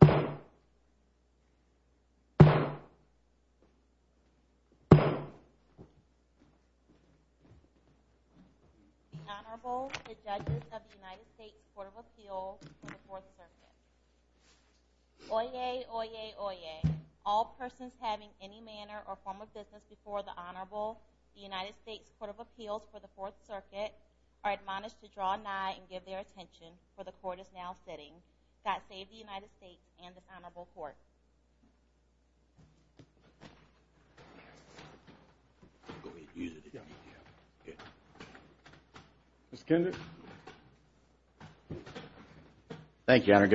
The Honorable, the Judges of the United States Court of Appeals for the Fourth Circuit. Oyez, oyez, oyez. All persons having any manner or form of business before the Honorable, the United States Court of Appeals for the Fourth Circuit are admonished to draw nigh and give their attention for the Court is now sitting. God save the United States and the Honorable Court. Josh Kendrick Mr. Kendrick. The Honorable, the Judges of the United States Court of Appeals for the Fourth Circuit Good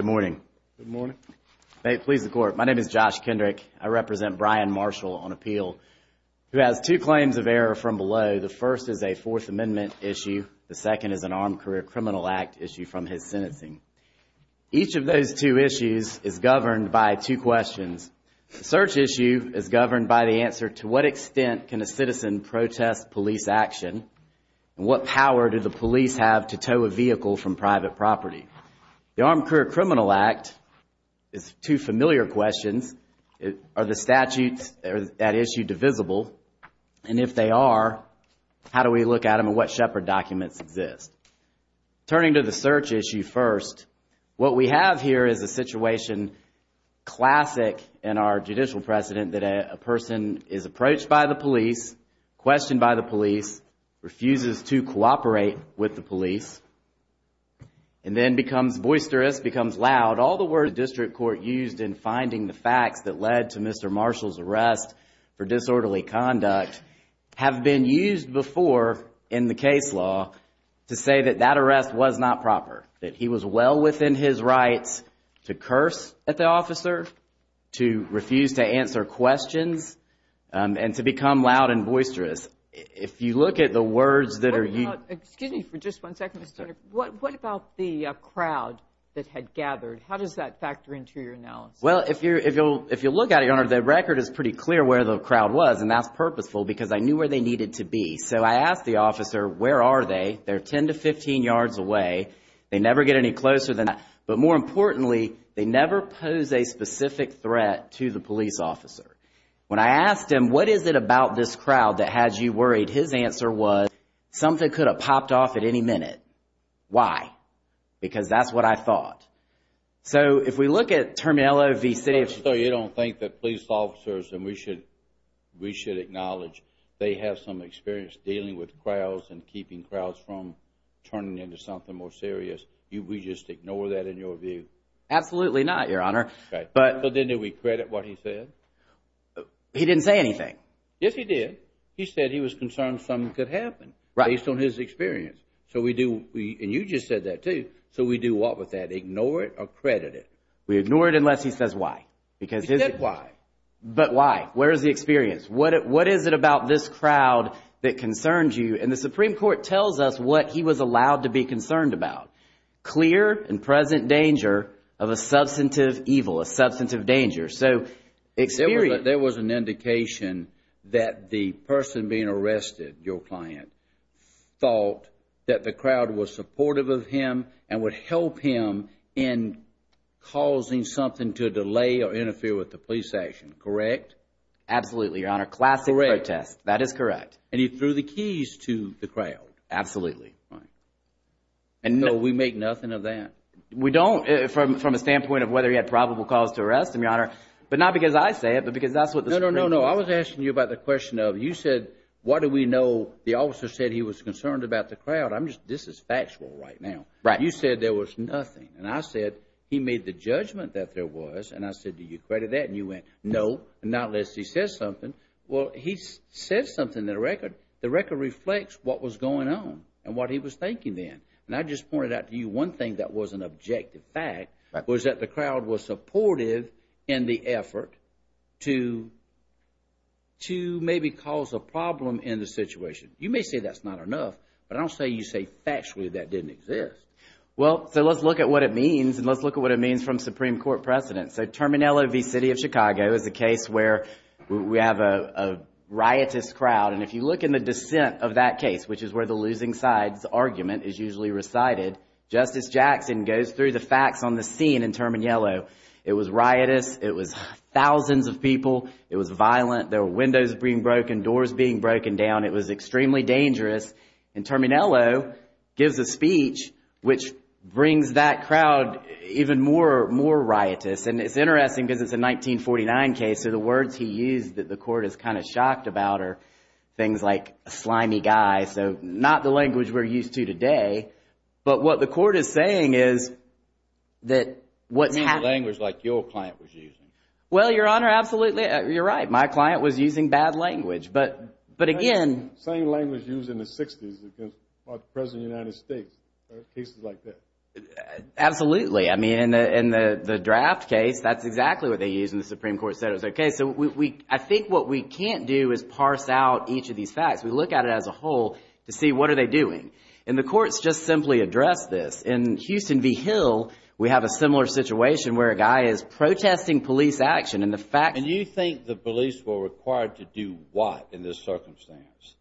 morning. Josh Kendrick May it please the Court. My name is Josh Kendrick. I represent Bryan Marshall on appeal who has two claims of error from below. The first is a Fourth Amendment issue. The second is an Armed Career Criminal Act issue from his sentencing. Each of those two issues is governed by two questions. The search issue is governed by the answer to what extent can a citizen protest police action and what power do the police have to tow a vehicle from private property. The Armed Career Criminal Act is two familiar questions. Are the statutes at issue divisible? And if they are, how do we look at them and what shepherd documents exist? Turning to the search issue first, what we have here is a situation classic in our judicial precedent that a person is approached by the police, questioned by the police, refuses to cooperate with the police, and then becomes boisterous, becomes loud. All the words district court used in finding the facts that led to Mr. Marshall's arrest for disorderly conduct have been used before in the case law to say that that arrest was not proper, that he was well within his rights to curse at the officer, to refuse to answer questions, and to become loud and boisterous. If you look at the words that are used... Excuse me for just one second, Mr. Kendrick. What about the crowd that had gathered? How does that factor into your analysis? Well, if you look at it, Your Honor, the record is pretty clear where the crowd was, and that's purposeful because I knew where they needed to be. So I asked the officer, where are they? They're 10 to 15 yards away. They never get any closer than that. But more importantly, they never pose a specific threat to the police officer. When I asked him, what is it about this crowd that had you worried, his answer was, something could have popped off at any minute. Why? Because that's what I thought. So if we look at Terminillo v. City of... So you don't think that police officers, and we should acknowledge, they have some experience dealing with crowds and keeping crowds from turning into something more serious. We just ignore that in your view? Absolutely not, Your Honor. Okay. But... So didn't he recredit what he said? He didn't say anything. Yes, he did. He said he was concerned something could happen based on his experience. So we do... And you just said that too. So we do what with that? Do we ignore it or credit it? We ignore it unless he says why. Because his... He said why. But why? Where is the experience? What is it about this crowd that concerns you? And the Supreme Court tells us what he was allowed to be concerned about, clear and present danger of a substantive evil, a substantive danger. So experience... There was an indication that the person being arrested, your client, thought that the crowd was supportive of him and would help him in causing something to delay or interfere with the police action, correct? Absolutely, Your Honor. Classic protest. That is correct. And he threw the keys to the crowd. Absolutely. Right. And so we make nothing of that. We don't from a standpoint of whether he had probable cause to arrest him, Your Honor. But not because I say it, but because that's what the Supreme Court... No, no, no, no. concerned about the crowd? I'm just... This is factual right now. Right. You said there was nothing. And I said he made the judgment that there was, and I said, do you credit that? And you went, no, not unless he says something. Well, he said something in the record. The record reflects what was going on and what he was thinking then. And I just pointed out to you one thing that was an objective fact was that the crowd was supportive in the effort to maybe cause a problem in the situation. You may say that's not enough, but I don't say you say factually that didn't exist. Well, so let's look at what it means and let's look at what it means from Supreme Court precedent. So Terminillo v. City of Chicago is a case where we have a riotous crowd. And if you look in the dissent of that case, which is where the losing sides argument is usually recited, Justice Jackson goes through the facts on the scene in Terminillo. It was riotous. It was thousands of people. It was violent. There were windows being broken, doors being broken down. It was extremely dangerous. And Terminillo gives a speech which brings that crowd even more, more riotous. And it's interesting because it's a 1949 case, so the words he used that the court is kind of shocked about are things like a slimy guy. So not the language we're used to today. But what the court is saying is that what's happening. Not the language like your client was using. Well, Your Honor, absolutely. You're right. My client was using bad language. But again. Same language used in the 60s against the President of the United States, cases like that. Absolutely. I mean, in the draft case, that's exactly what they used and the Supreme Court said it was okay. So I think what we can't do is parse out each of these facts. We look at it as a whole to see what are they doing. And the courts just simply address this. In Houston v. Hill, we have a similar situation where a guy is protesting police action and the fact. And you think the police were required to do what in this circumstance?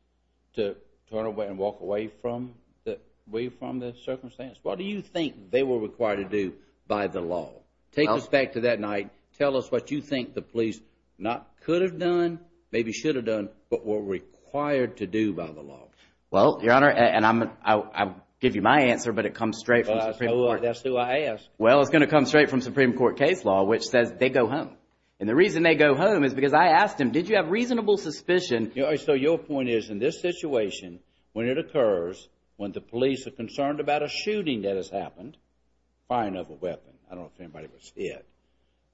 To turn away and walk away from the circumstance? What do you think they were required to do by the law? Take us back to that night. Tell us what you think the police not could have done, maybe should have done, but were required to do by the law. Well, Your Honor, and I'll give you my answer, but it comes straight from Supreme Court. That's who I asked. Well, it's going to come straight from Supreme Court case law, which says they go home. And the reason they go home is because I asked him, did you have reasonable suspicion? So your point is, in this situation, when it occurs, when the police are concerned about a shooting that has happened, firing of a weapon, I don't know if anybody was hit,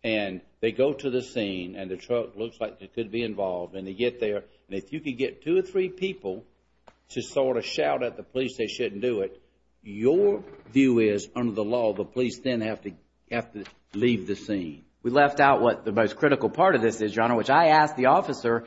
and they go to the scene and the truck looks like it could be involved and they get there. And if you could get two or three people to sort of shout at the police they shouldn't do it, your view is, under the law, the police then have to leave the scene. We left out what the most critical part of this is, Your Honor, which I asked the officer.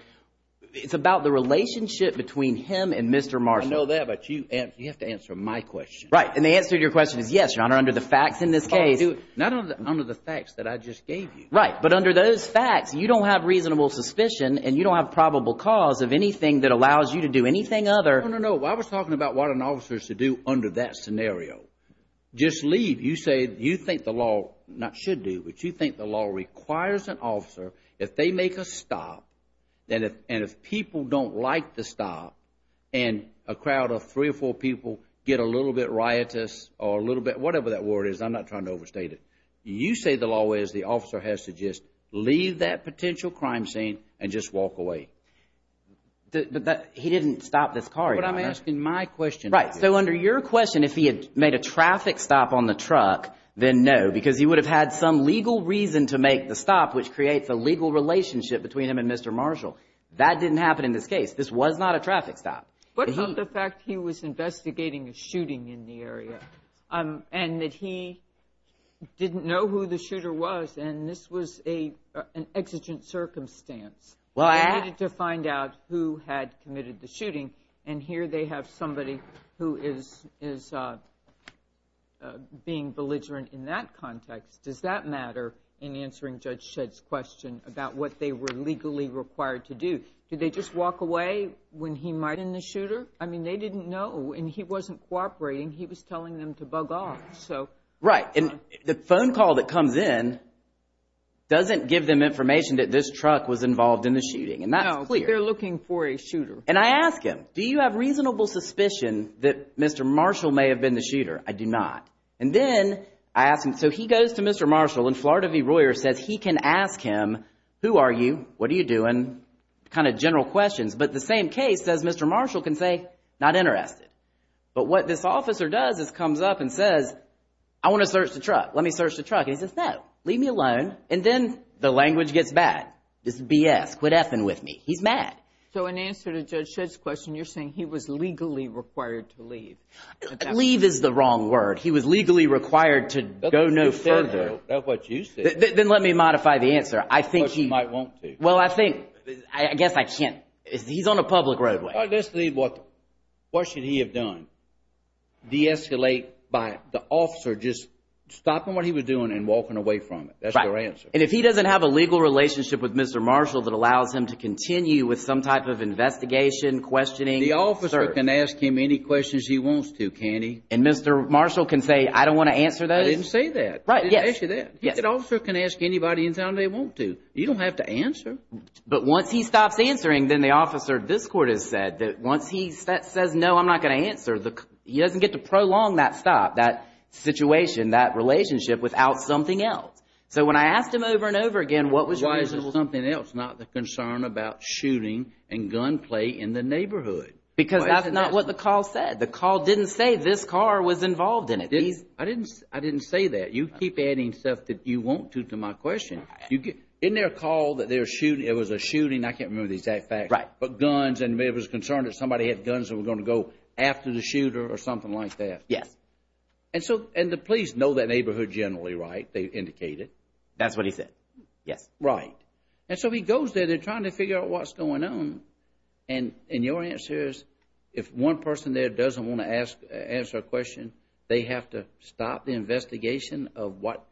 It's about the relationship between him and Mr. Marshall. I know that, but you have to answer my question. Right. And the answer to your question is yes, Your Honor, under the facts in this case. Not under the facts that I just gave you. Right. But under those facts, you don't have reasonable suspicion and you don't have probable cause of anything that allows you to do anything other. No, no, no. I was talking about what an officer should do under that scenario. Just leave. You say, you think the law, not should do, but you think the law requires an officer, if they make a stop, and if people don't like the stop, and a crowd of three or four people get a little bit riotous or a little bit whatever that word is, I'm not trying to overstate it, you say the law is the officer has to just leave that potential crime scene and just walk away. He didn't stop this car, Your Honor. But I'm asking my question. Right. So under your question, if he had made a traffic stop on the truck, then no, because he would have had some legal reason to make the stop, which creates a legal relationship between him and Mr. Marshall. That didn't happen in this case. This was not a traffic stop. But of the fact he was investigating a shooting in the area, and that he didn't know who the shooter was, and this was an exigent circumstance to find out who had committed the shooting. And here they have somebody who is being belligerent in that context. Does that matter in answering Judge Shedd's question about what they were legally required to do? Did they just walk away when he might have been the shooter? I mean, they didn't know, and he wasn't cooperating. He was telling them to bug off. Right. And the phone call that comes in doesn't give them information that this truck was involved in the shooting. No. They're looking for a shooter. And I ask him, do you have reasonable suspicion that Mr. Marshall may have been the shooter? I do not. And then I ask him, so he goes to Mr. Marshall and Florida v. Royer says he can ask him, who are you? What are you doing? Kind of general questions. But the same case says Mr. Marshall can say, not interested. But what this officer does is comes up and says, I want to search the truck. Let me search the truck. And he says, no. Leave me alone. And then the language gets bad. This is BS. Quit effing with me. He's mad. So in answer to Judge Shedd's question, you're saying he was legally required to leave. Leave is the wrong word. He was legally required to go no further. That's what you said. Then let me modify the answer. I think he might want to. Well, I think, I guess I can't. He's on a public roadway. Let's leave. What should he have done? De-escalate by the officer just stopping what he was doing and walking away from it. That's your answer. And if he doesn't have a legal relationship with Mr. Marshall that allows him to continue with some type of investigation, questioning. The officer can ask him any questions he wants to, can't he? And Mr. Marshall can say, I don't want to answer those? I didn't say that. Right. Yes. I didn't ask you that. Yes. The officer can ask anybody anything they want to. You don't have to answer. But once he stops answering, then the officer, this Court has said, that once he says, no, I'm not going to answer, he doesn't get to prolong that stop, that situation, that relationship without something else. So when I asked him over and over again, what was your answer? It was something else, not the concern about shooting and gunplay in the neighborhood. Because that's not what the call said. The call didn't say this car was involved in it. I didn't say that. You keep adding stuff that you want to to my question. Isn't there a call that there was a shooting, I can't remember the exact facts, but guns and it was a concern that somebody had guns that were going to go after the shooter or something like that. Yes. And the police know that neighborhood generally, right? They indicate it. That's what he said. Yes. Right. And so he goes there. They're trying to figure out what's going on. And your answer is, if one person there doesn't want to answer a question, they have to stop the investigation of what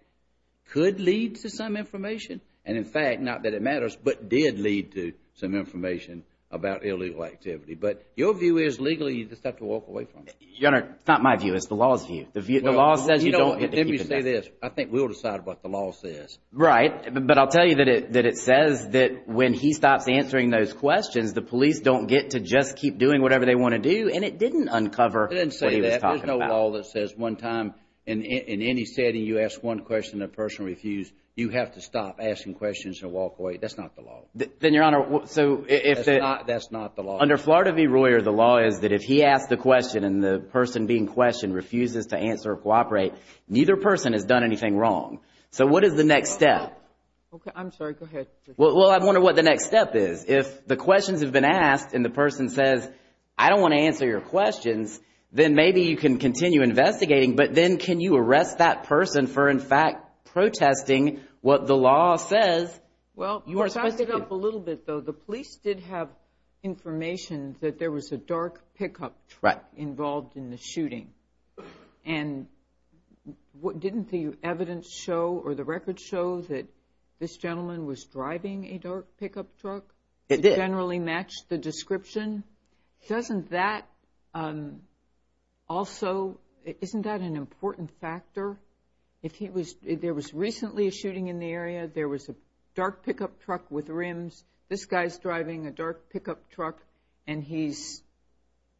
could lead to some information. And in fact, not that it matters, but did lead to some information about illegal activity. But your view is, legally, you just have to walk away from it. Your Honor, it's not my view. It's the law's view. The law says you don't get to keep it down. Well, let me say this. I think we'll decide what the law says. Right. But I'll tell you that it says that when he stops answering those questions, the police don't get to just keep doing whatever they want to do, and it didn't uncover what he It didn't say that. There's no law that says one time, in any setting, you ask one question and a person refused. You have to stop asking questions and walk away. That's not the law. Then, Your Honor, so if the… That's not the law. Under Flaherty v. Royer, the law is that if he asks the question and the person being questioned refuses to answer or cooperate, neither person has done anything wrong. So what is the next step? Okay. I'm sorry. Go ahead. Well, I wonder what the next step is. If the questions have been asked and the person says, I don't want to answer your questions, then maybe you can continue investigating, but then can you arrest that person for in fact protesting what the law says you are supposed to do? Well, to back it up a little bit, though, the police did have information that there was a dark pickup truck involved in the shooting. And didn't the evidence show or the records show that this gentleman was driving a dark pickup truck? It did. It generally matched the description? Doesn't that also… Isn't that an important factor? If he was… There was recently a shooting in the area. There was a dark pickup truck with rims. This guy's driving a dark pickup truck and he's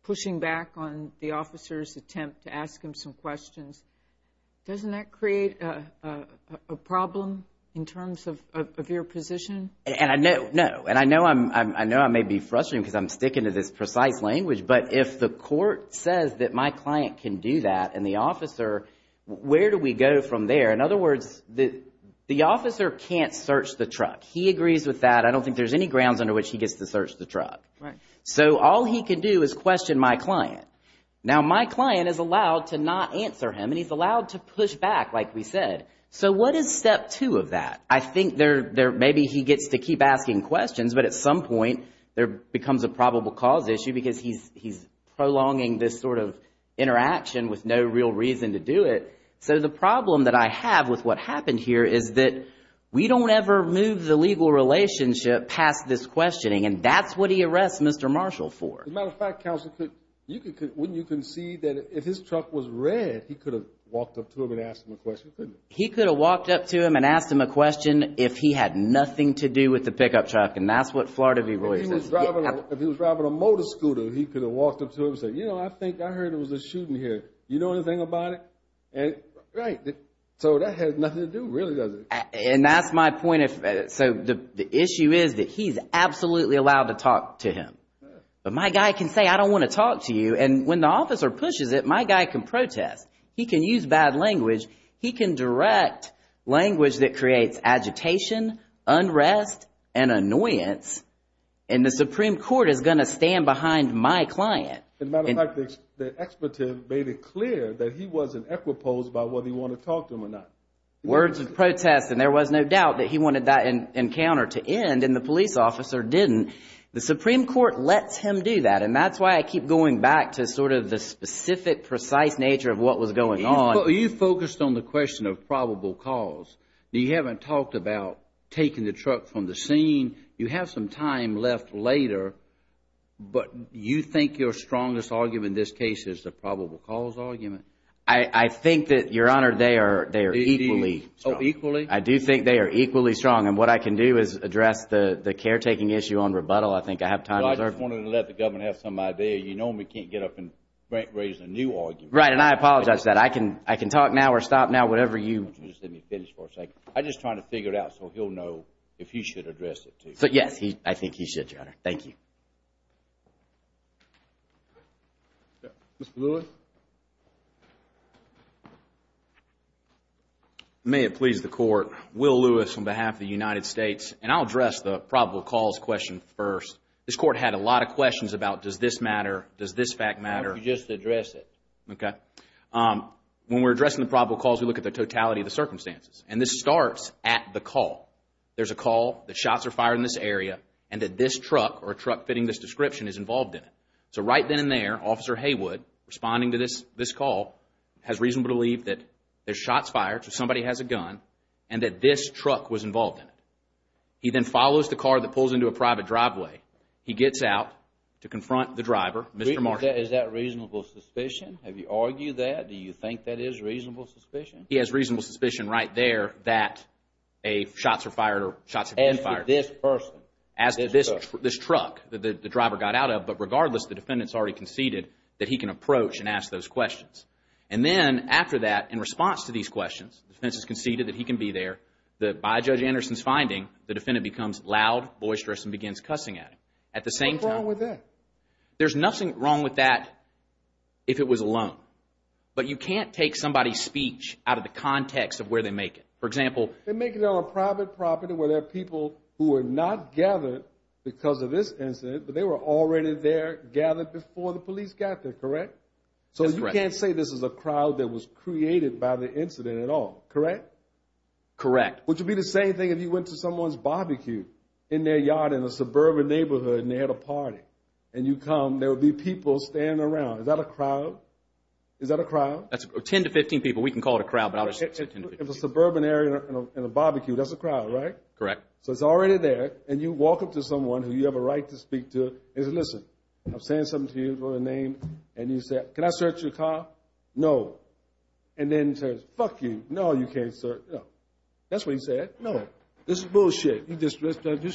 pushing back on the officer's attempt to ask him some questions. Doesn't that create a problem in terms of your position? And I know… No. And I know I may be frustrating because I'm sticking to this precise language, but if the court says that my client can do that and the officer, where do we go from there? In other words, the officer can't search the truck. He agrees with that. I don't think there's any grounds under which he gets to search the truck. So all he can do is question my client. Now my client is allowed to not answer him and he's allowed to push back like we said. So what is step two of that? I think maybe he gets to keep asking questions, but at some point there becomes a probable cause issue because he's prolonging this sort of interaction with no real reason to do it. So the problem that I have with what happened here is that we don't ever move the legal relationship past this questioning and that's what he arrests Mr. Marshall for. As a matter of fact, counsel, when you concede that if his truck was red, he could have walked up to him and asked him a question, couldn't he? He could have walked up to him and asked him a question if he had nothing to do with the pickup truck and that's what Flaherty v. Royce says. If he was driving a motor scooter, he could have walked up to him and said, you know, I think I heard there was a shooting here. You know anything about it? And right, so that has nothing to do, really, does it? And that's my point. So the issue is that he's absolutely allowed to talk to him, but my guy can say, I don't want to talk to you, and when the officer pushes it, my guy can protest. He can use bad language. He can direct language that creates agitation, unrest, and annoyance, and the Supreme Court is going to stand behind my client. As a matter of fact, the expert made it clear that he wasn't equiposed by whether you want to talk to him or not. Words of protest, and there was no doubt that he wanted that encounter to end, and the police officer didn't. The Supreme Court lets him do that, and that's why I keep going back to sort of the specific, precise nature of what was going on. You focused on the question of probable cause. You haven't talked about taking the truck from the scene. You have some time left later, but you think your strongest argument in this case is the probable cause argument? I think that, Your Honor, they are equally strong. I do think they are equally strong, and what I can do is address the caretaking issue on rebuttal. I think I have time reserved. I just wanted to let the government have some idea. You know we can't get up and raise a new argument. Right, and I apologize for that. I can talk now or stop now, whatever you... Just let me finish for a second. I'm just trying to figure it out so he'll know if he should address it, too. Yes, I think he should, Your Honor. Thank you. Mr. Lewis? May it please the court. Will Lewis on behalf of the United States, and I'll address the probable cause question first. This court had a lot of questions about does this matter? Does this fact matter? Why don't you just address it? Okay. When we're addressing the probable cause, we look at the totality of the circumstances, and this starts at the call. There's a call that shots are fired in this area and that this truck or truck fitting this description is involved in it. So right then and there, Officer Haywood, responding to this call, has reason to believe that there's shots fired, so somebody has a gun, and that this truck was involved in it. He then follows the car that pulls into a private driveway. He gets out to confront the driver, Mr. Marshall. Is that reasonable suspicion? Have you argued that? Do you think that is reasonable suspicion? He has reasonable suspicion right there that shots are fired or shots have been fired. As to this person? As to this truck that the driver got out of. But regardless, the defendant's already conceded that he can approach and ask those questions. And then after that, in response to these questions, the defense has conceded that he can be there. By Judge Anderson's finding, the defendant becomes loud, boisterous, and begins cussing at him. At the same time... What's wrong with that? There's nothing wrong with that if it was alone. But you can't take somebody's speech out of the context of where they make it. For example... They make it on a private property where there are people who were not gathered because of this incident, but they were already there, gathered before the police got there, correct? So you can't say this is a crowd that was created by the incident at all, correct? Correct. Which would be the same thing if you went to someone's barbecue in their yard in a suburban neighborhood and they had a party. And you come, there would be people standing around. Is that a crowd? Is that a crowd? That's 10 to 15 people. We can call it a crowd, but I'll just... If it's a suburban area and a barbecue, that's a crowd, right? Correct. So it's already there, and you walk up to someone who you have a right to speak to and say, listen, I'm saying something to you for a name, and you say, can I search your car? No. And then he says, fuck you, no, you can't search. No. That's what he said. No. This is bullshit. He's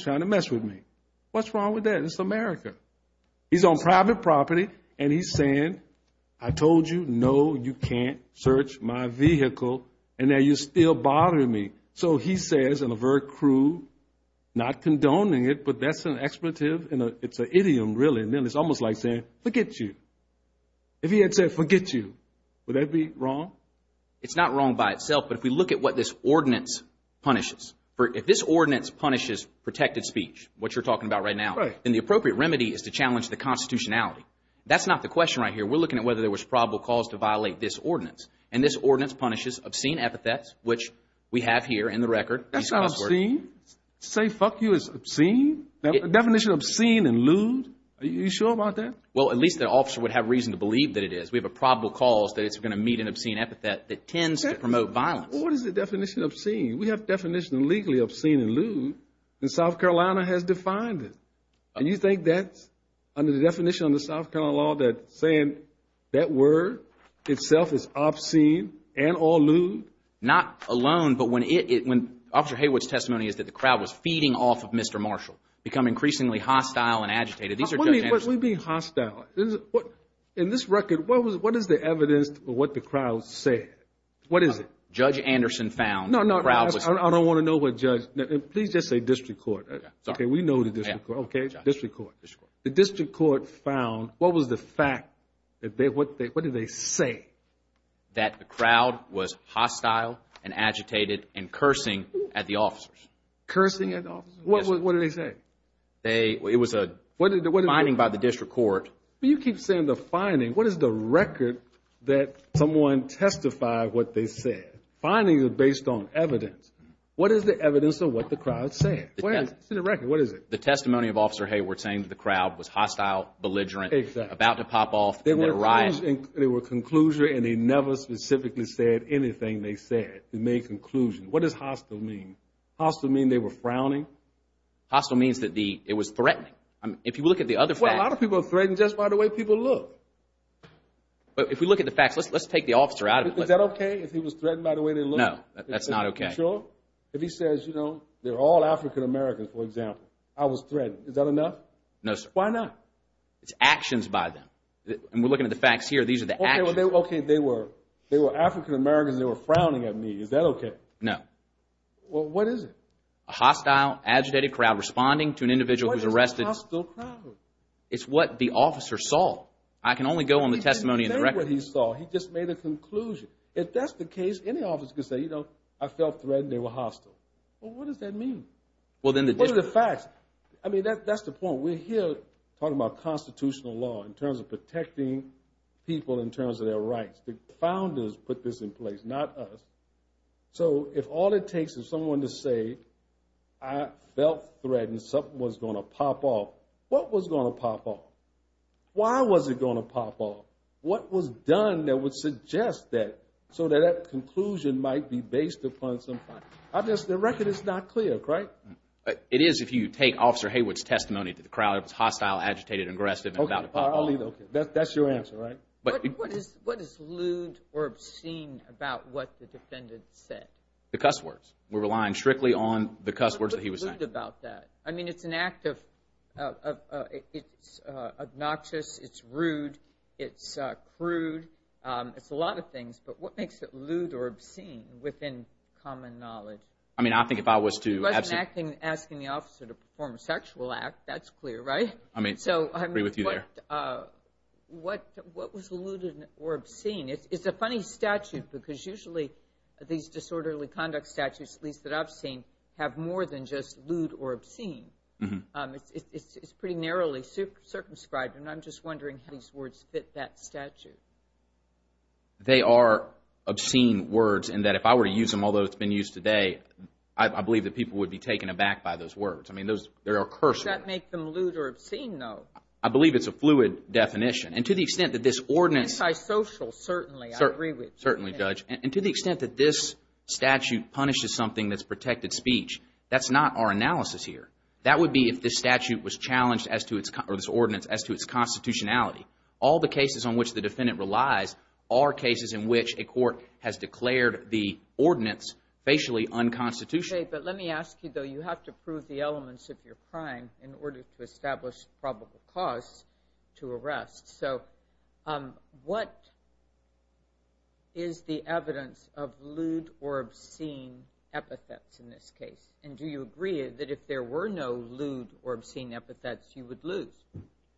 trying to mess with me. What's wrong with that? It's America. He's on private property, and he's saying, I told you, no, you can't search my vehicle, and now you're still bothering me. So he says in a very cruel, not condoning it, but that's an expletive, and it's an idiom, really, and it's almost like saying, forget you. If he had said, forget you, would that be wrong? It's not wrong by itself, but if we look at what this ordinance punishes, if this ordinance punishes protected speech, what you're talking about right now, then the appropriate remedy is to challenge the constitutionality. That's not the question right here. We're looking at whether there was probable cause to violate this ordinance, and this here in the record. That's not obscene. To say, fuck you, is obscene? The definition of obscene and lewd, are you sure about that? Well, at least the officer would have reason to believe that it is. We have a probable cause that it's going to meet an obscene epithet that tends to promote violence. What is the definition of obscene? We have definition legally obscene and lewd, and South Carolina has defined it, and you think that's under the definition of the South Carolina law that saying that word itself is obscene and or lewd? Not alone, but when Officer Haywood's testimony is that the crowd was feeding off of Mr. Marshall, become increasingly hostile and agitated, these are Judge Anderson's... What do you mean hostile? In this record, what is the evidence of what the crowd said? What is it? Judge Anderson found the crowd was... No, no. I don't want to know what Judge... Please just say district court. Sorry. Okay. We know the district court. Okay. District court. District court. The district court found... What was the fact? What did they say? That the crowd was hostile and agitated and cursing at the officers. Cursing at the officers? Yes. What did they say? They... It was a... What did they... ...finding by the district court. You keep saying the finding. What is the record that someone testified what they said? Finding is based on evidence. What is the evidence of what the crowd said? Go ahead. It's in the record. The testimony of Officer Haywood saying that the crowd was hostile, belligerent, about to pop off in a riot. Exactly. They were conclusionary and they never specifically said anything they said to make conclusion. What does hostile mean? Hostile mean they were frowning? Hostile means that the... It was threatening. If you look at the other facts... Well, a lot of people are threatened just by the way people look. If we look at the facts... Let's take the officer out of... Is that okay if he was threatened by the way they look? No. That's not okay. You sure? If he says, you know, they're all African-Americans, for example, I was threatened, is that enough? No, sir. Why not? It's actions by them. And we're looking at the facts here. These are the actions. Okay. They were African-Americans. They were frowning at me. Is that okay? No. Well, what is it? A hostile, agitated crowd responding to an individual who's arrested. What is a hostile crowd? It's what the officer saw. I can only go on the testimony in the record. He didn't say what he saw. He just made a conclusion. If that's the case, any officer could say, you know, I felt threatened. They were hostile. Well, what does that mean? Well, then the... What are the facts? I mean, that's the point. So, we're here talking about constitutional law in terms of protecting people in terms of their rights. The founders put this in place, not us. So, if all it takes is someone to say, I felt threatened, something was going to pop off, what was going to pop off? Why was it going to pop off? What was done that would suggest that so that that conclusion might be based upon some facts? I guess the record is not clear, right? It is if you take Officer Haywood's testimony to the crowd. It was hostile, agitated, aggressive, and about to pop off. That's your answer, right? What is lewd or obscene about what the defendant said? The cuss words. We're relying strictly on the cuss words that he was saying. What's lewd about that? I mean, it's an act of... It's obnoxious. It's rude. It's crude. It's a lot of things. But what makes it lewd or obscene within common knowledge? I mean, I think if I was to... It wasn't asking the officer to perform a sexual act. That's clear, right? I mean, I agree with you there. What was lewd or obscene? It's a funny statute because usually these disorderly conduct statutes, at least that I've seen, have more than just lewd or obscene. It's pretty narrowly circumscribed, and I'm just wondering how these words fit that statute. They are obscene words in that if I were to use them, although it's been used today, I believe that people would be taken aback by those words. I mean, they are cursory. Does that make them lewd or obscene, though? I believe it's a fluid definition. And to the extent that this ordinance... Antisocial, certainly. I agree with you. Certainly, Judge. And to the extent that this statute punishes something that's protected speech, that's not our analysis here. That would be if this statute was challenged as to its... or this ordinance as to its constitutionality. All the cases on which the defendant relies are cases in which a court has declared the ordinance facially unconstitutional. But let me ask you, though. You have to prove the elements of your crime in order to establish probable cause to arrest. So what is the evidence of lewd or obscene epithets in this case? And do you agree that if there were no lewd or obscene epithets, you would lose?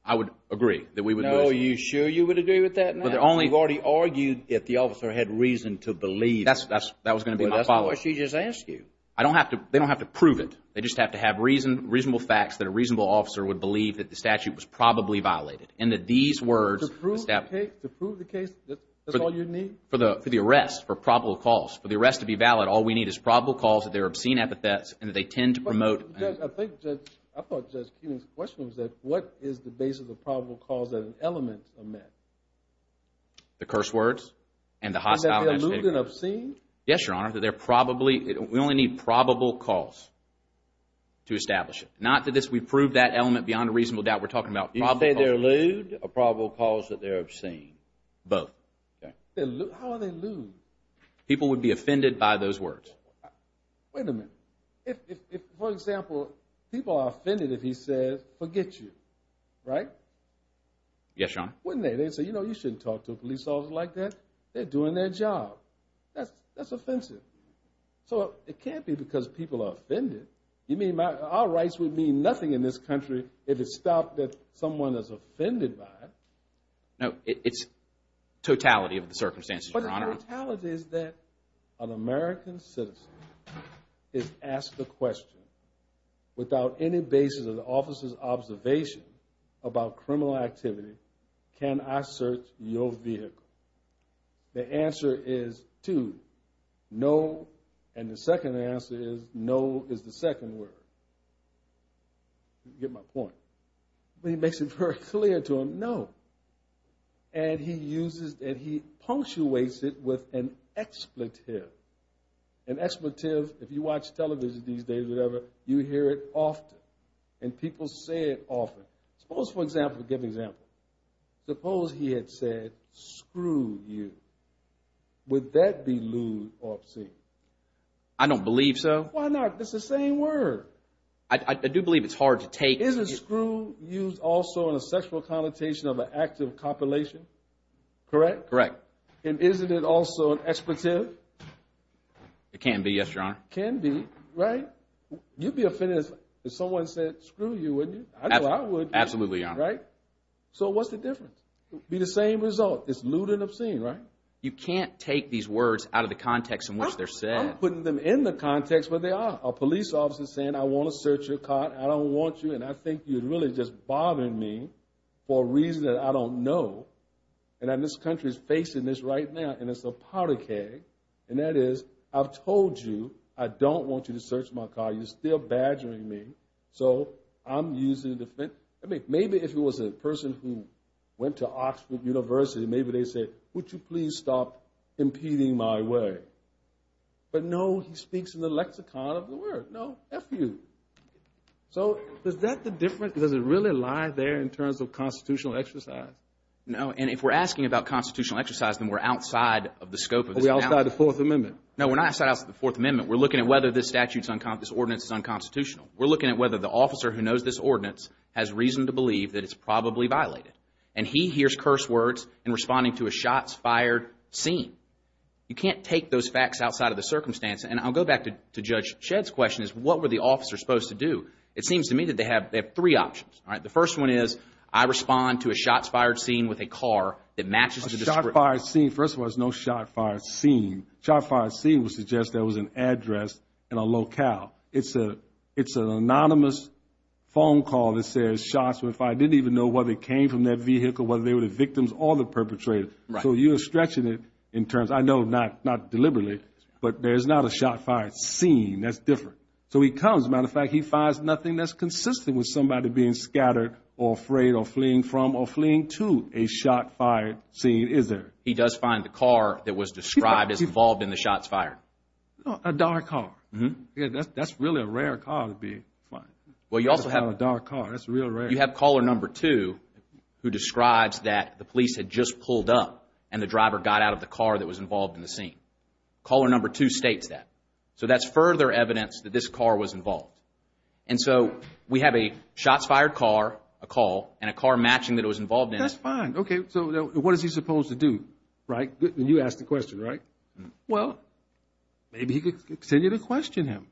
I would agree that we would lose. Are you sure you would agree with that now? You've already argued that the officer had reason to believe. That was going to be my follow-up. But that's not what she just asked you. They don't have to prove it. They just have to have reasonable facts that a reasonable officer would believe that the statute was probably violated. And that these words... To prove the case, that's all you need? For the arrest, for probable cause. For the arrest to be valid, all we need is probable cause that there are obscene epithets and that they tend to promote... Judge, I thought Judge Keenan's question was that what is the basis of probable cause that an element are met? The curse words and the hostile... And that they're lewd and obscene? Yes, Your Honor. That they're probably... We only need probable cause to establish it. Not that we've proved that element beyond a reasonable doubt. We're talking about probable cause... You can say they're lewd or probable cause that they're obscene. Both. How are they lewd? People would be offended by those words. Wait a minute. If, for example, people are offended if he says, forget you, right? Yes, Your Honor. Wouldn't they? They'd say, you know, you shouldn't talk to a police officer like that. They're doing their job. That's offensive. So it can't be because people are offended. Our rights would mean nothing in this country if it stopped that someone is offended by it. No, it's totality of the circumstances, Your Honor. But the totality is that an American citizen is asked a question without any basis of the criminal activity, can I search your vehicle? The answer is, two, no. And the second answer is, no is the second word. You get my point. But he makes it very clear to them, no. And he punctuates it with an expletive. An expletive, if you watch television these days or whatever, you hear it often. And people say it often. Suppose, for example, suppose he had said, screw you. Would that be lewd or obscene? I don't believe so. Why not? It's the same word. I do believe it's hard to take. Is a screw used also in a sexual connotation of an active copulation? Correct? Correct. And isn't it also an expletive? It can be, yes, Your Honor. Can be, right? You'd be offended if someone said, screw you, wouldn't you? Absolutely, Your Honor. Right? So what's the difference? It would be the same result. It's lewd and obscene, right? You can't take these words out of the context in which they're said. I'm putting them in the context where they are. A police officer saying, I want to search your car, I don't want you, and I think you're really just bothering me for a reason that I don't know. And this country is facing this right now, and it's a powder keg. And that is, I've told you, I don't want you to search my car. You're still badgering me. So I'm using the defense. I mean, maybe if it was a person who went to Oxford University, maybe they'd say, would you please stop impeding my way? But no, he speaks in the lexicon of the word. No, F you. So is that the difference? Does it really lie there in terms of constitutional exercise? No, and if we're asking about constitutional exercise, then we're outside of the scope of this analysis. Are we outside the Fourth Amendment? No, we're not outside of the Fourth Amendment. We're looking at whether this statute is unconstitutional, this ordinance is unconstitutional. We're looking at whether the officer who knows this ordinance has reason to believe that it's probably violated. And he hears curse words in responding to a shots fired scene. You can't take those facts outside of the circumstance. And I'll go back to Judge Shedd's question, is what were the officers supposed to do? It seems to me that they have three options. The first one is, I respond to a shots fired scene with a car that matches the description. A shot fired scene, first of all, there's no shot fired scene. A shot fired scene would suggest there was an address and a locale. It's an anonymous phone call that says shots were fired. I didn't even know whether it came from that vehicle, whether they were the victims or the perpetrator. So you're stretching it in terms, I know not deliberately, but there's not a shot fired scene that's different. So he comes, as a matter of fact, he finds nothing that's consistent with somebody being scattered or afraid or fleeing from or fleeing to a shot fired scene, is there? He does find the car that was described as involved in the shots fired. A dark car. That's really a rare car to find. A dark car, that's real rare. You have caller number two, who describes that the police had just pulled up and the driver got out of the car that was involved in the scene. Caller number two states that. So that's further evidence that this car was involved. And so we have a shots fired car, a call, and a car matching that it was involved in. That's fine. Okay, so what is he supposed to do? You asked the question, right? Well. Maybe he could continue to question him.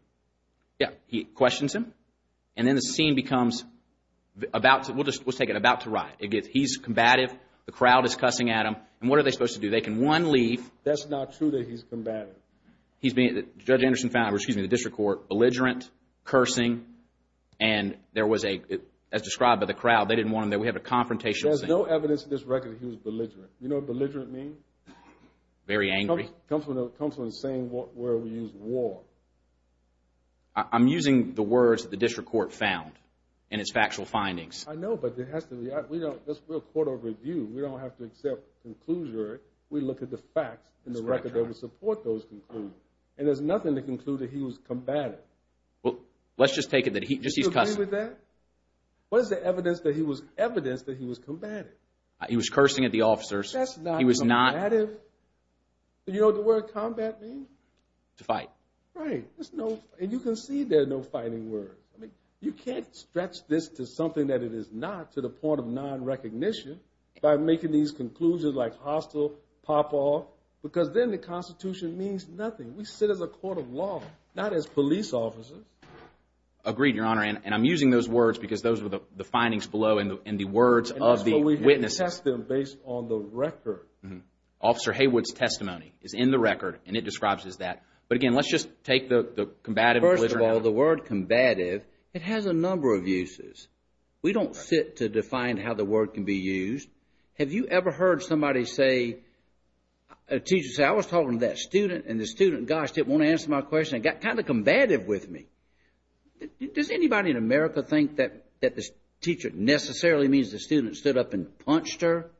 Yeah, he questions him. And then the scene becomes, we'll just take it, about to riot. He's combative, the crowd is cussing at him. And what are they supposed to do? They can, one, leave. That's not true that he's combative. He's being, Judge Anderson found, or excuse me, the district court, belligerent, cursing, and there was a, as described by the crowd, they didn't want him there. We have a confrontational scene. There's no evidence in this record that he was belligerent. You know what belligerent means? Very angry. It comes from the saying where we use war. I'm using the words that the district court found in its factual findings. I know, but it has to be, we're a court of review. We don't have to accept conclusions. We look at the facts in the record that would support those conclusions. And there's nothing to conclude that he was combative. Well, let's just take it that he's cussing. Do you agree with that? What is the evidence that he was combative? He was cursing at the officers. That's not combative. Do you know what the word combat means? To fight. Right. And you can see there are no fighting words. You can't stretch this to something that it is not, to the point of non-recognition, by making these conclusions like hostile, pop off, because then the Constitution means nothing. We sit as a court of law, not as police officers. Agreed, Your Honor, and I'm using those words because those were the findings below and the words of the witnesses. We test them based on the record. Officer Haywood's testimony is in the record and it describes it as that. But again, let's just take the combative. First of all, the word combative, it has a number of uses. We don't sit to define how the word can be used. Have you ever heard somebody say, a teacher say, I was talking to that student and the student, gosh, didn't want to answer my question and got kind of combative with me. Does anybody in America think that the teacher necessarily means the student stood up and punched her?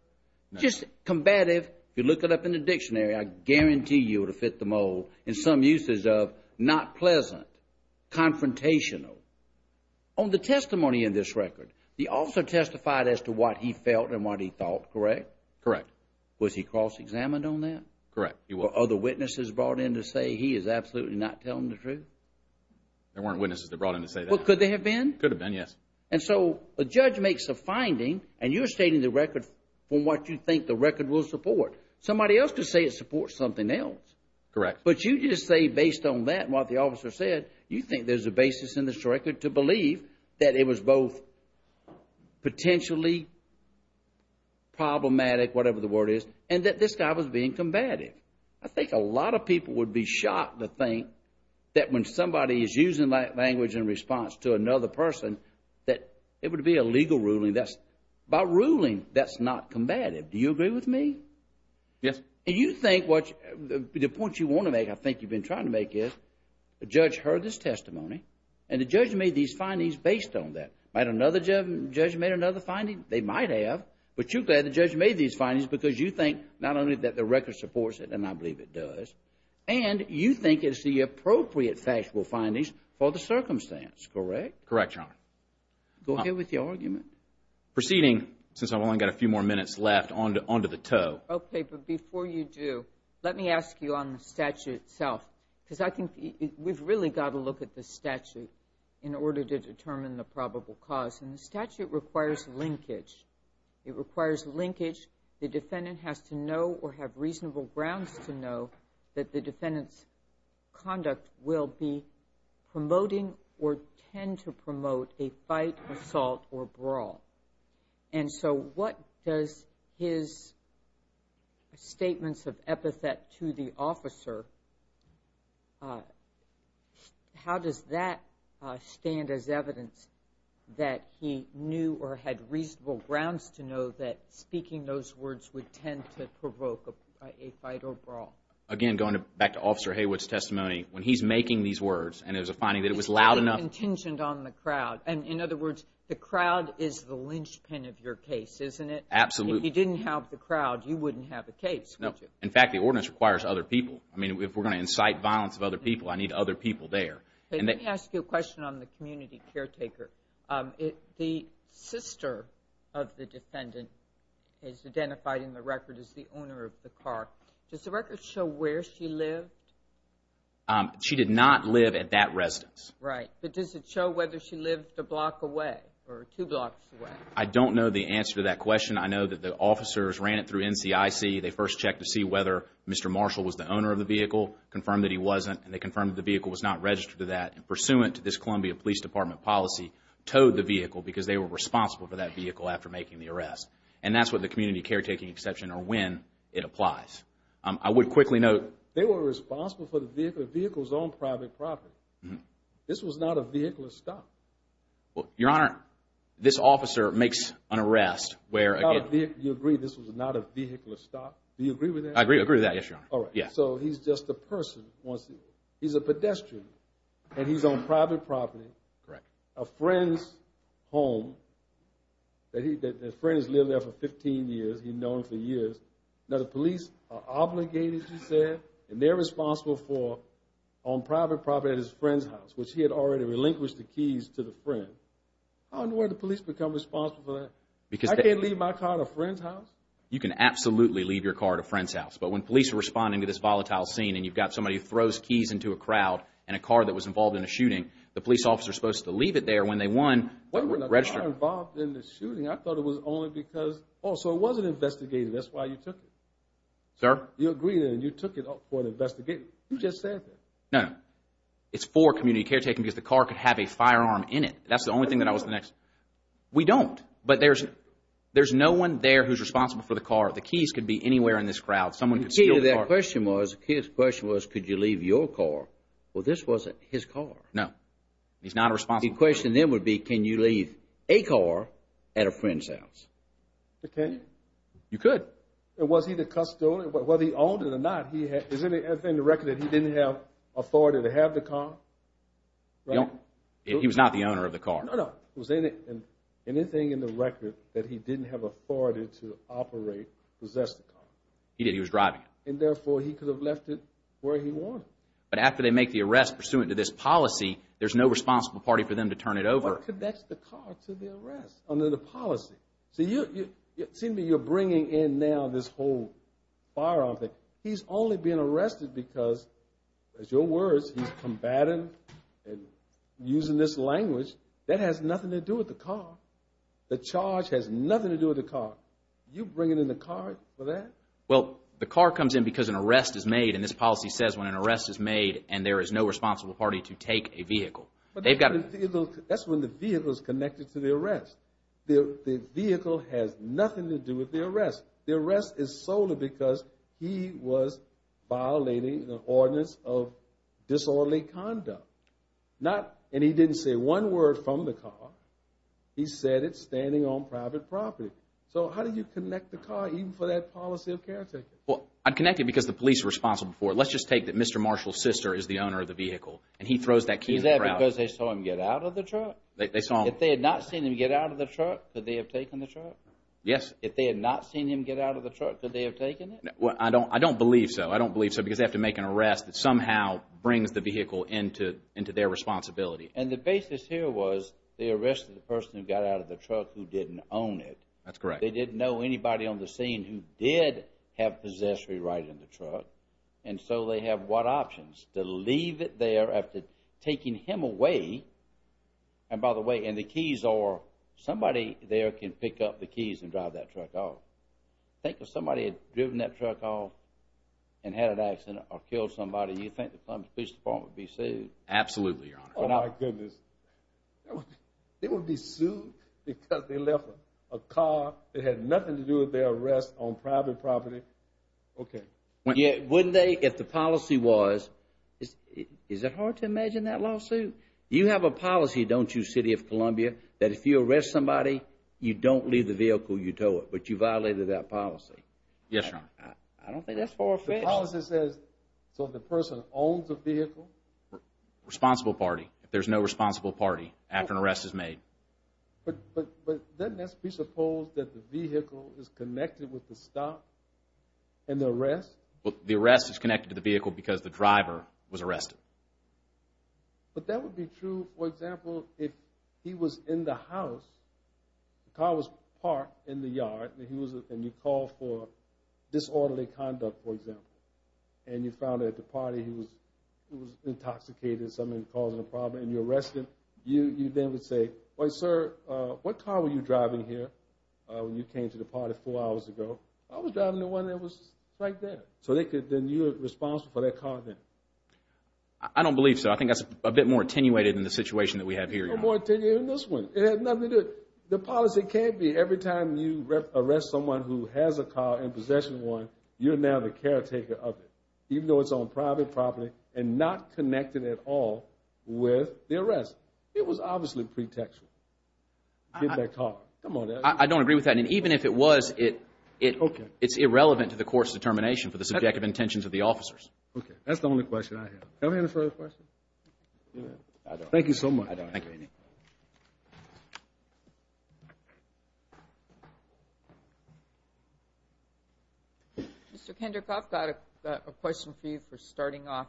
Just combative, if you look it up in the dictionary, I guarantee you it will fit the mold in some uses of not pleasant, confrontational. On the testimony in this record, the officer testified as to what he felt and what he thought, correct? Correct. Was he cross-examined on that? Correct, he was. Were other witnesses brought in to say he is absolutely not telling the truth? There weren't witnesses that brought in to say that. Well, could there have been? Could have been, yes. And so a judge makes a finding and you're stating the record from what you think the record will support. Somebody else could say it supports something else. Correct. But you just say based on that and what the officer said, you think there's a basis in this record to believe that it was both potentially problematic, whatever the word is, and that this guy was being combative. I think a lot of people would be shocked to think that when somebody is using language in response to another person, that it would be a legal ruling. By ruling, that's not combative. Do you agree with me? Yes. And you think what the point you want to make, I think you've been trying to make, is the judge heard this testimony and the judge made these findings based on that. Might another judge have made another finding? They might have. But you're glad the judge made these findings because you think not only that the record supports it, and I believe it does, and you think it's the appropriate factual findings for the circumstance, correct? Correct, Your Honor. Go ahead with your argument. Proceeding, since I've only got a few more minutes left, on to the toe. Okay, but before you do, let me ask you on the statute itself, because I think we've really got to look at the statute in order to determine the probable cause. And the statute requires linkage. It requires linkage. The defendant has to know or have reasonable grounds to know that the defendant's conduct will be promoting or tend to promote a fight, assault, or brawl. And so what does his statements of epithet to the officer, how does that stand as evidence that he knew or had reasonable grounds to know that speaking those words would tend to provoke a fight or brawl? Again, going back to Officer Haywood's testimony, when he's making these words and there's a finding that it was loud enough. It's kind of contingent on the crowd. And in other words, the crowd is the linchpin of your case, isn't it? Absolutely. If you didn't have the crowd, you wouldn't have a case, would you? No. In fact, the ordinance requires other people. I mean, if we're going to incite violence of other people, I need other people there. Let me ask you a question on the community caretaker. The sister of the defendant is identified in the record as the owner of the car. Does the record show where she lived? She did not live at that residence. Right. But does it show whether she lived a block away or two blocks away? I don't know the answer to that question. I know that the officers ran it through NCIC. They first checked to see whether Mr. Marshall was the owner of the vehicle, confirmed that he wasn't, and they confirmed the vehicle was not registered to that. And pursuant to this Columbia Police Department policy, towed the vehicle because they were responsible for that vehicle after making the arrest. And that's what the community caretaking exception or when it applies. I would quickly note. They were responsible for the vehicle. The vehicle was on private property. This was not a vehicular stop. Well, Your Honor, this officer makes an arrest where, again. You agree this was not a vehicular stop? Do you agree with that? I agree with that, yes, Your Honor. All right. So he's just a person. He's a pedestrian, and he's on private property. Correct. A friend's home. The friend has lived there for 15 years. He's known him for years. Now, the police are obligated, you said, and they're responsible for on private property at his friend's house, which he had already relinquished the keys to the friend. How in the world did the police become responsible for that? I can't leave my car at a friend's house? You can absolutely leave your car at a friend's house. But when police are responding to this volatile scene and you've got somebody who throws keys into a crowd in a car that was involved in a shooting, the police officer is supposed to leave it there. When they won, register it. Why was the car involved in the shooting? I thought it was only because. Oh, so it wasn't investigated. That's why you took it. Sir? You agreed, and you took it up for an investigation. You just said that. No, no. It's for community caretaking because the car could have a firearm in it. That's the only thing that I was the next. We don't. But there's no one there who's responsible for the car. The keys could be anywhere in this crowd. Someone could steal the car. The key to that question was could you leave your car? Well, this wasn't his car. No. He's not responsible. The question then would be can you leave a car at a friend's house? Can you? You could. Was he the custodian? Whether he owned it or not, is there anything in the record that he didn't have authority to have the car? He was not the owner of the car. No, no. Was there anything in the record that he didn't have authority to operate, possess the car? He did. He was driving it. And, therefore, he could have left it where he wanted. But after they make the arrest pursuant to this policy, there's no responsible party for them to turn it over. What connects the car to the arrest under the policy? It seems to me you're bringing in now this whole firearm thing. He's only being arrested because, as your words, he's combating and using this language. That has nothing to do with the car. The charge has nothing to do with the car. You bringing in the car for that? Well, the car comes in because an arrest is made, and this policy says when an arrest is made and there is no responsible party to take a vehicle. That's when the vehicle is connected to the arrest. The vehicle has nothing to do with the arrest. The arrest is solely because he was violating an ordinance of disorderly conduct. And he didn't say one word from the car. He said it's standing on private property. So how do you connect the car even for that policy of caretaking? Well, I'd connect it because the police are responsible for it. Let's just take that Mr. Marshall's sister is the owner of the vehicle, and he throws that key in the crowd. Is that because they saw him get out of the truck? If they had not seen him get out of the truck, could they have taken the truck? Yes. If they had not seen him get out of the truck, could they have taken it? I don't believe so. I don't believe so because they have to make an arrest that somehow brings the vehicle into their responsibility. And the basis here was they arrested the person who got out of the truck who didn't own it. That's correct. They didn't know anybody on the scene who did have possessory right in the truck. And so they have what options? To leave it there after taking him away, and by the way, and the keys are somebody there can pick up the keys and drive that truck off. Think if somebody had driven that truck off and had an accident or killed somebody, do you think the Columbia Police Department would be sued? Absolutely, Your Honor. Oh, my goodness. They would be sued because they left a car that had nothing to do with their arrest on private property? Okay. Wouldn't they if the policy was? Is it hard to imagine that lawsuit? You have a policy, don't you, City of Columbia, that if you arrest somebody you don't leave the vehicle, you tow it, but you violated that policy? Yes, Your Honor. I don't think that's for offense. The policy says so the person owns the vehicle? Responsible party. If there's no responsible party after an arrest is made. But doesn't this presuppose that the vehicle is connected with the stop and the arrest? The arrest is connected to the vehicle because the driver was arrested. But that would be true, for example, if he was in the house, the car was parked in the yard and you called for disorderly conduct, for example, and you found at the party he was intoxicated, something causing a problem, and you arrest him, you then would say, Wait, sir, what car were you driving here when you came to the party four hours ago? I was driving the one that was right there. So then you're responsible for that car then? I don't believe so. I think that's a bit more attenuated than the situation that we have here, Your Honor. It had nothing to do with it. The policy can't be every time you arrest someone who has a car and possesses one, you're now the caretaker of it, even though it's on private property and not connected at all with the arrest. It was obviously pretextual. I don't agree with that. And even if it was, it's irrelevant to the court's determination for the subjective intentions of the officers. Okay, that's the only question I have. Do I have any further questions? I don't. Thank you so much. I don't have any. Mr. Kendrick, I've got a question for you for starting off.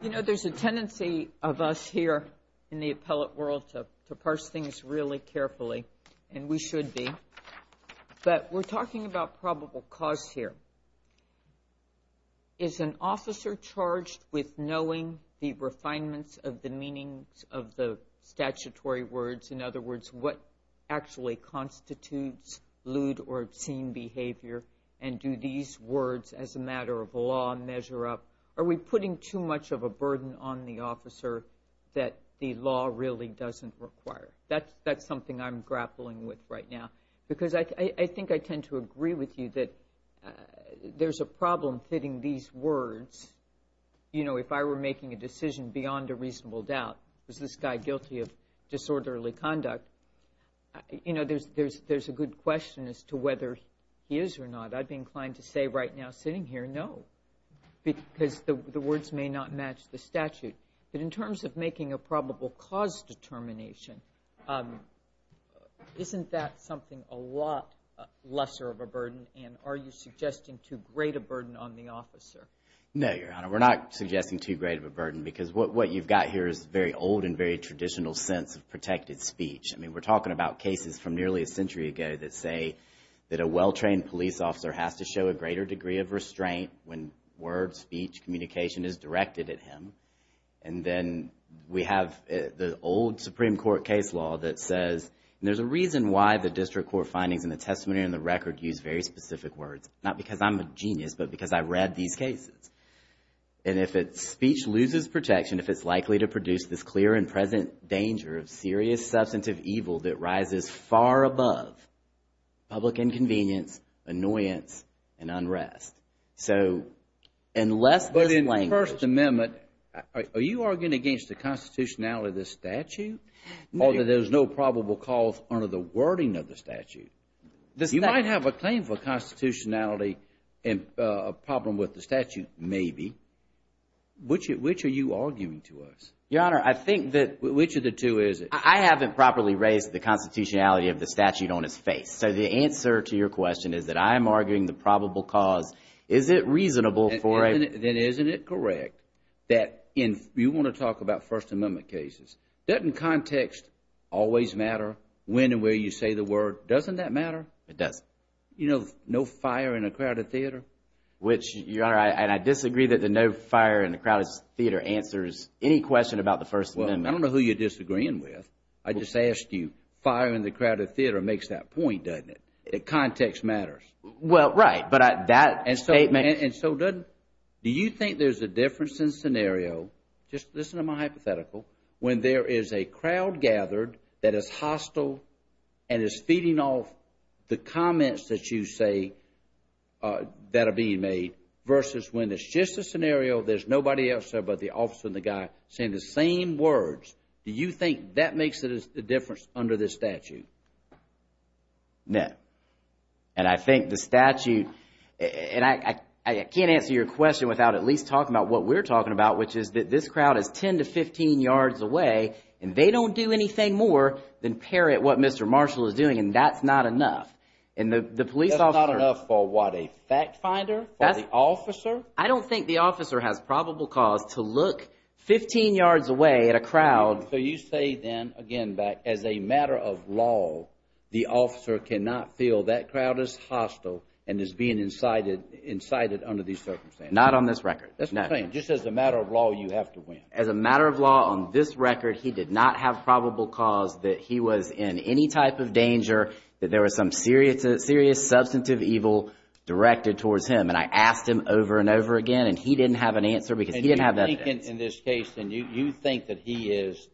You know, there's a tendency of us here in the appellate world to parse things really carefully, and we should be, but we're talking about probable cause here. Is an officer charged with knowing the refinements of the meanings of the statutory words? In other words, what actually constitutes lewd or obscene behavior, and do these words as a matter of law measure up? Are we putting too much of a burden on the officer that the law really doesn't require? That's something I'm grappling with right now, because I think I tend to agree with you that there's a problem fitting these words. You know, if I were making a decision beyond a reasonable doubt, was this guy guilty of disorderly conduct, you know, there's a good question as to whether he is or not. I'd be inclined to say right now sitting here, no, because the words may not match the statute. But in terms of making a probable cause determination, isn't that something a lot lesser of a burden, and are you suggesting too great a burden on the officer? No, Your Honor, we're not suggesting too great of a burden, because what you've got here is very old and very traditional sense of protected speech. I mean, we're talking about cases from nearly a century ago that say that a well-trained police officer has to show a greater degree of restraint when words, speech, communication is directed at him, and then we have the old Supreme Court case law that says, and there's a reason why the district court findings in the testimony and the record use very specific words, not because I'm a genius, but because I read these cases. And if speech loses protection, if it's likely to produce this clear and present danger of serious substantive evil that rises far above public inconvenience, annoyance, and unrest. But in the First Amendment, are you arguing against the constitutionality of this statute, or that there's no probable cause under the wording of the statute? You might have a claim for constitutionality and a problem with the statute, maybe. Which are you arguing to us? Your Honor, I think that which of the two is it? I haven't properly raised the constitutionality of the statute on its face. So the answer to your question is that I'm arguing the probable cause. Is it reasonable for a... Then isn't it correct that if you want to talk about First Amendment cases, doesn't context always matter? When and where you say the word, doesn't that matter? It does. You know, no fire in a crowded theater. Which, Your Honor, and I disagree that the no fire in a crowded theater answers any question about the First Amendment. Well, I don't know who you're disagreeing with. I just asked you. Fire in the crowded theater makes that point, doesn't it? Context matters. Well, right. But that statement... And so, do you think there's a difference in scenario, just listen to my hypothetical, when there is a crowd gathered that is hostile and is feeding off the comments that you say that are being made versus when it's just a scenario, there's nobody else there but the officer and the guy saying the same words. Do you think that makes a difference under this statute? No. And I think the statute... And I can't answer your question without at least talking about what we're talking about, which is that this crowd is 10 to 15 yards away, and they don't do anything more than parrot what Mr. Marshall is doing, and that's not enough. And the police officer... That's not enough for what, a fact finder? For the officer? I don't think the officer has probable cause to look 15 yards away at a crowd... So you say then, again, that as a matter of law, the officer cannot feel that crowd is hostile and is being incited under these circumstances. Not on this record. Just as a matter of law, you have to win. As a matter of law, on this record, he did not have probable cause that he was in any type of danger, that there was some serious substantive evil directed towards him, and I asked him over and over again, and he didn't have an answer because he didn't have evidence. And you think in this case, you think that he is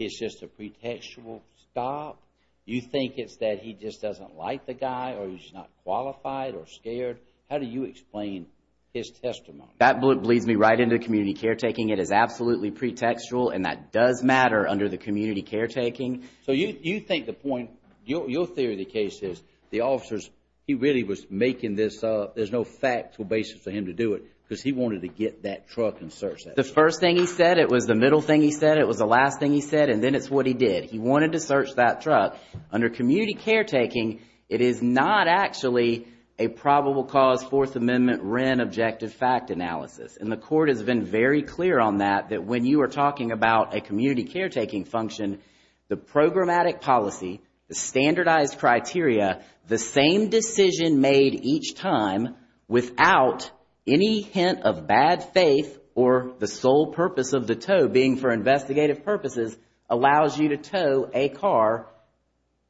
just a pretextual stop? You think it's that he just doesn't like the guy, or he's not qualified or scared? How do you explain his testimony? That leads me right into community caretaking. It is absolutely pretextual, and that does matter under the community caretaking. So you think the point... Your theory of the case is the officers, he really was making this up. There's no factual basis for him to do it because he wanted to get that truck and search that truck. The first thing he said, it was the middle thing he said, it was the last thing he said, and then it's what he did. He wanted to search that truck. Under community caretaking, it is not actually a probable cause Fourth Amendment Wren objective fact analysis. And the Court has been very clear on that, that when you are talking about a community caretaking function, the programmatic policy, the standardized criteria, the same decision made each time without any hint of bad faith or the sole purpose of the tow being for investigative purposes allows you to tow a car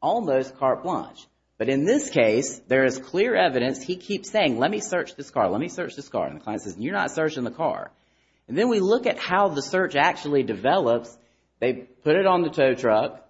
almost carte blanche. But in this case, there is clear evidence. He keeps saying, let me search this car. Let me search this car. And the client says, you're not searching the car. And then we look at how the search actually develops. They put it on the tow truck.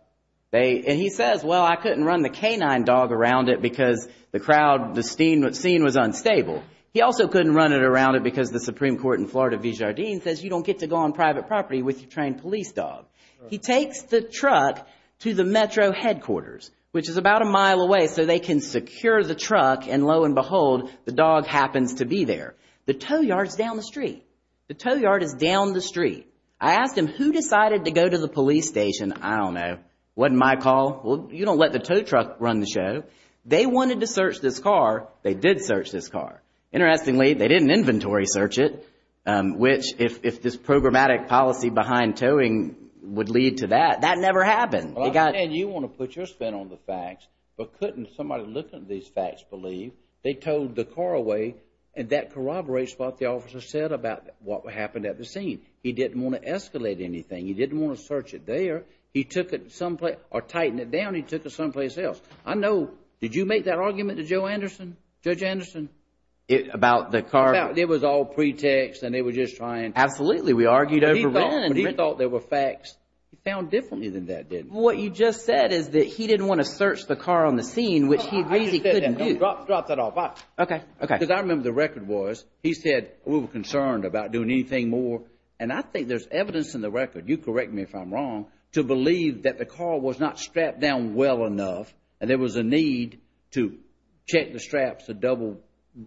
And he says, well, I couldn't run the canine dog around it because the crowd, the scene was unstable. He also couldn't run it around it because the Supreme Court in Florida v. Jardim says you don't get to go on private property with your trained police dog. He takes the truck to the metro headquarters, which is about a mile away, so they can secure the truck. And lo and behold, the dog happens to be there. The tow yard is down the street. The tow yard is down the street. I asked him who decided to go to the police station. I don't know. Wasn't my call. Well, you don't let the tow truck run the show. They wanted to search this car. They did search this car. Interestingly, they didn't inventory search it, which if this programmatic policy behind towing would lead to that, that never happened. And you want to put your spin on the facts, but couldn't somebody looking at these facts believe they towed the car away? And that corroborates what the officer said about what happened at the scene. He didn't want to escalate anything. He didn't want to search it there. He took it someplace or tightened it down. He took it someplace else. I know. Did you make that argument to Joe Anderson, Judge Anderson? About the car? It was all pretext, and they were just trying. Absolutely. We argued over it. He thought there were facts. He found differently than that, didn't he? What you just said is that he didn't want to search the car on the scene, which he agrees he couldn't do. Drop that off. Okay. Because I remember the record was, he said, we were concerned about doing anything more. And I think there's evidence in the record, you correct me if I'm wrong, to believe that the car was not strapped down well enough and there was a need to check the straps to double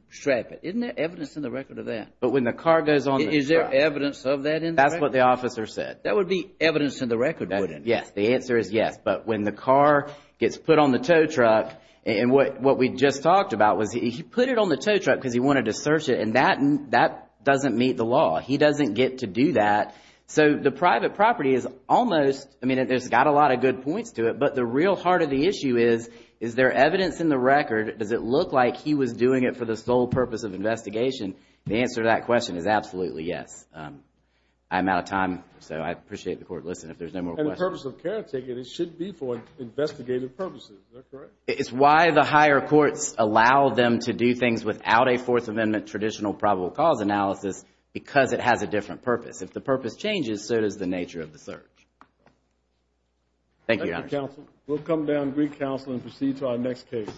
strap it. Isn't there evidence in the record of that? But when the car goes on the truck. Is there evidence of that in the record? That's what the officer said. That would be evidence in the record, wouldn't it? Yes. The answer is yes. But when the car gets put on the tow truck, and what we just talked about was he put it on the tow truck because he wanted to search it, and that doesn't meet the law. He doesn't get to do that. So the private property is almost, I mean, there's got a lot of good points to it, but the real heart of the issue is, is there evidence in the record? Does it look like he was doing it for the sole purpose of investigation? The answer to that question is absolutely yes. I'm out of time, so I appreciate the court listening. If there's no more questions. And the purpose of caretaking, it should be for investigative purposes. Is that correct? It's why the higher courts allow them to do things without a Fourth Amendment traditional probable cause analysis because it has a different purpose. If the purpose changes, so does the nature of the search. Thank you, Your Honor. Thank you, counsel. We'll come down to Greek counsel and proceed to our next case.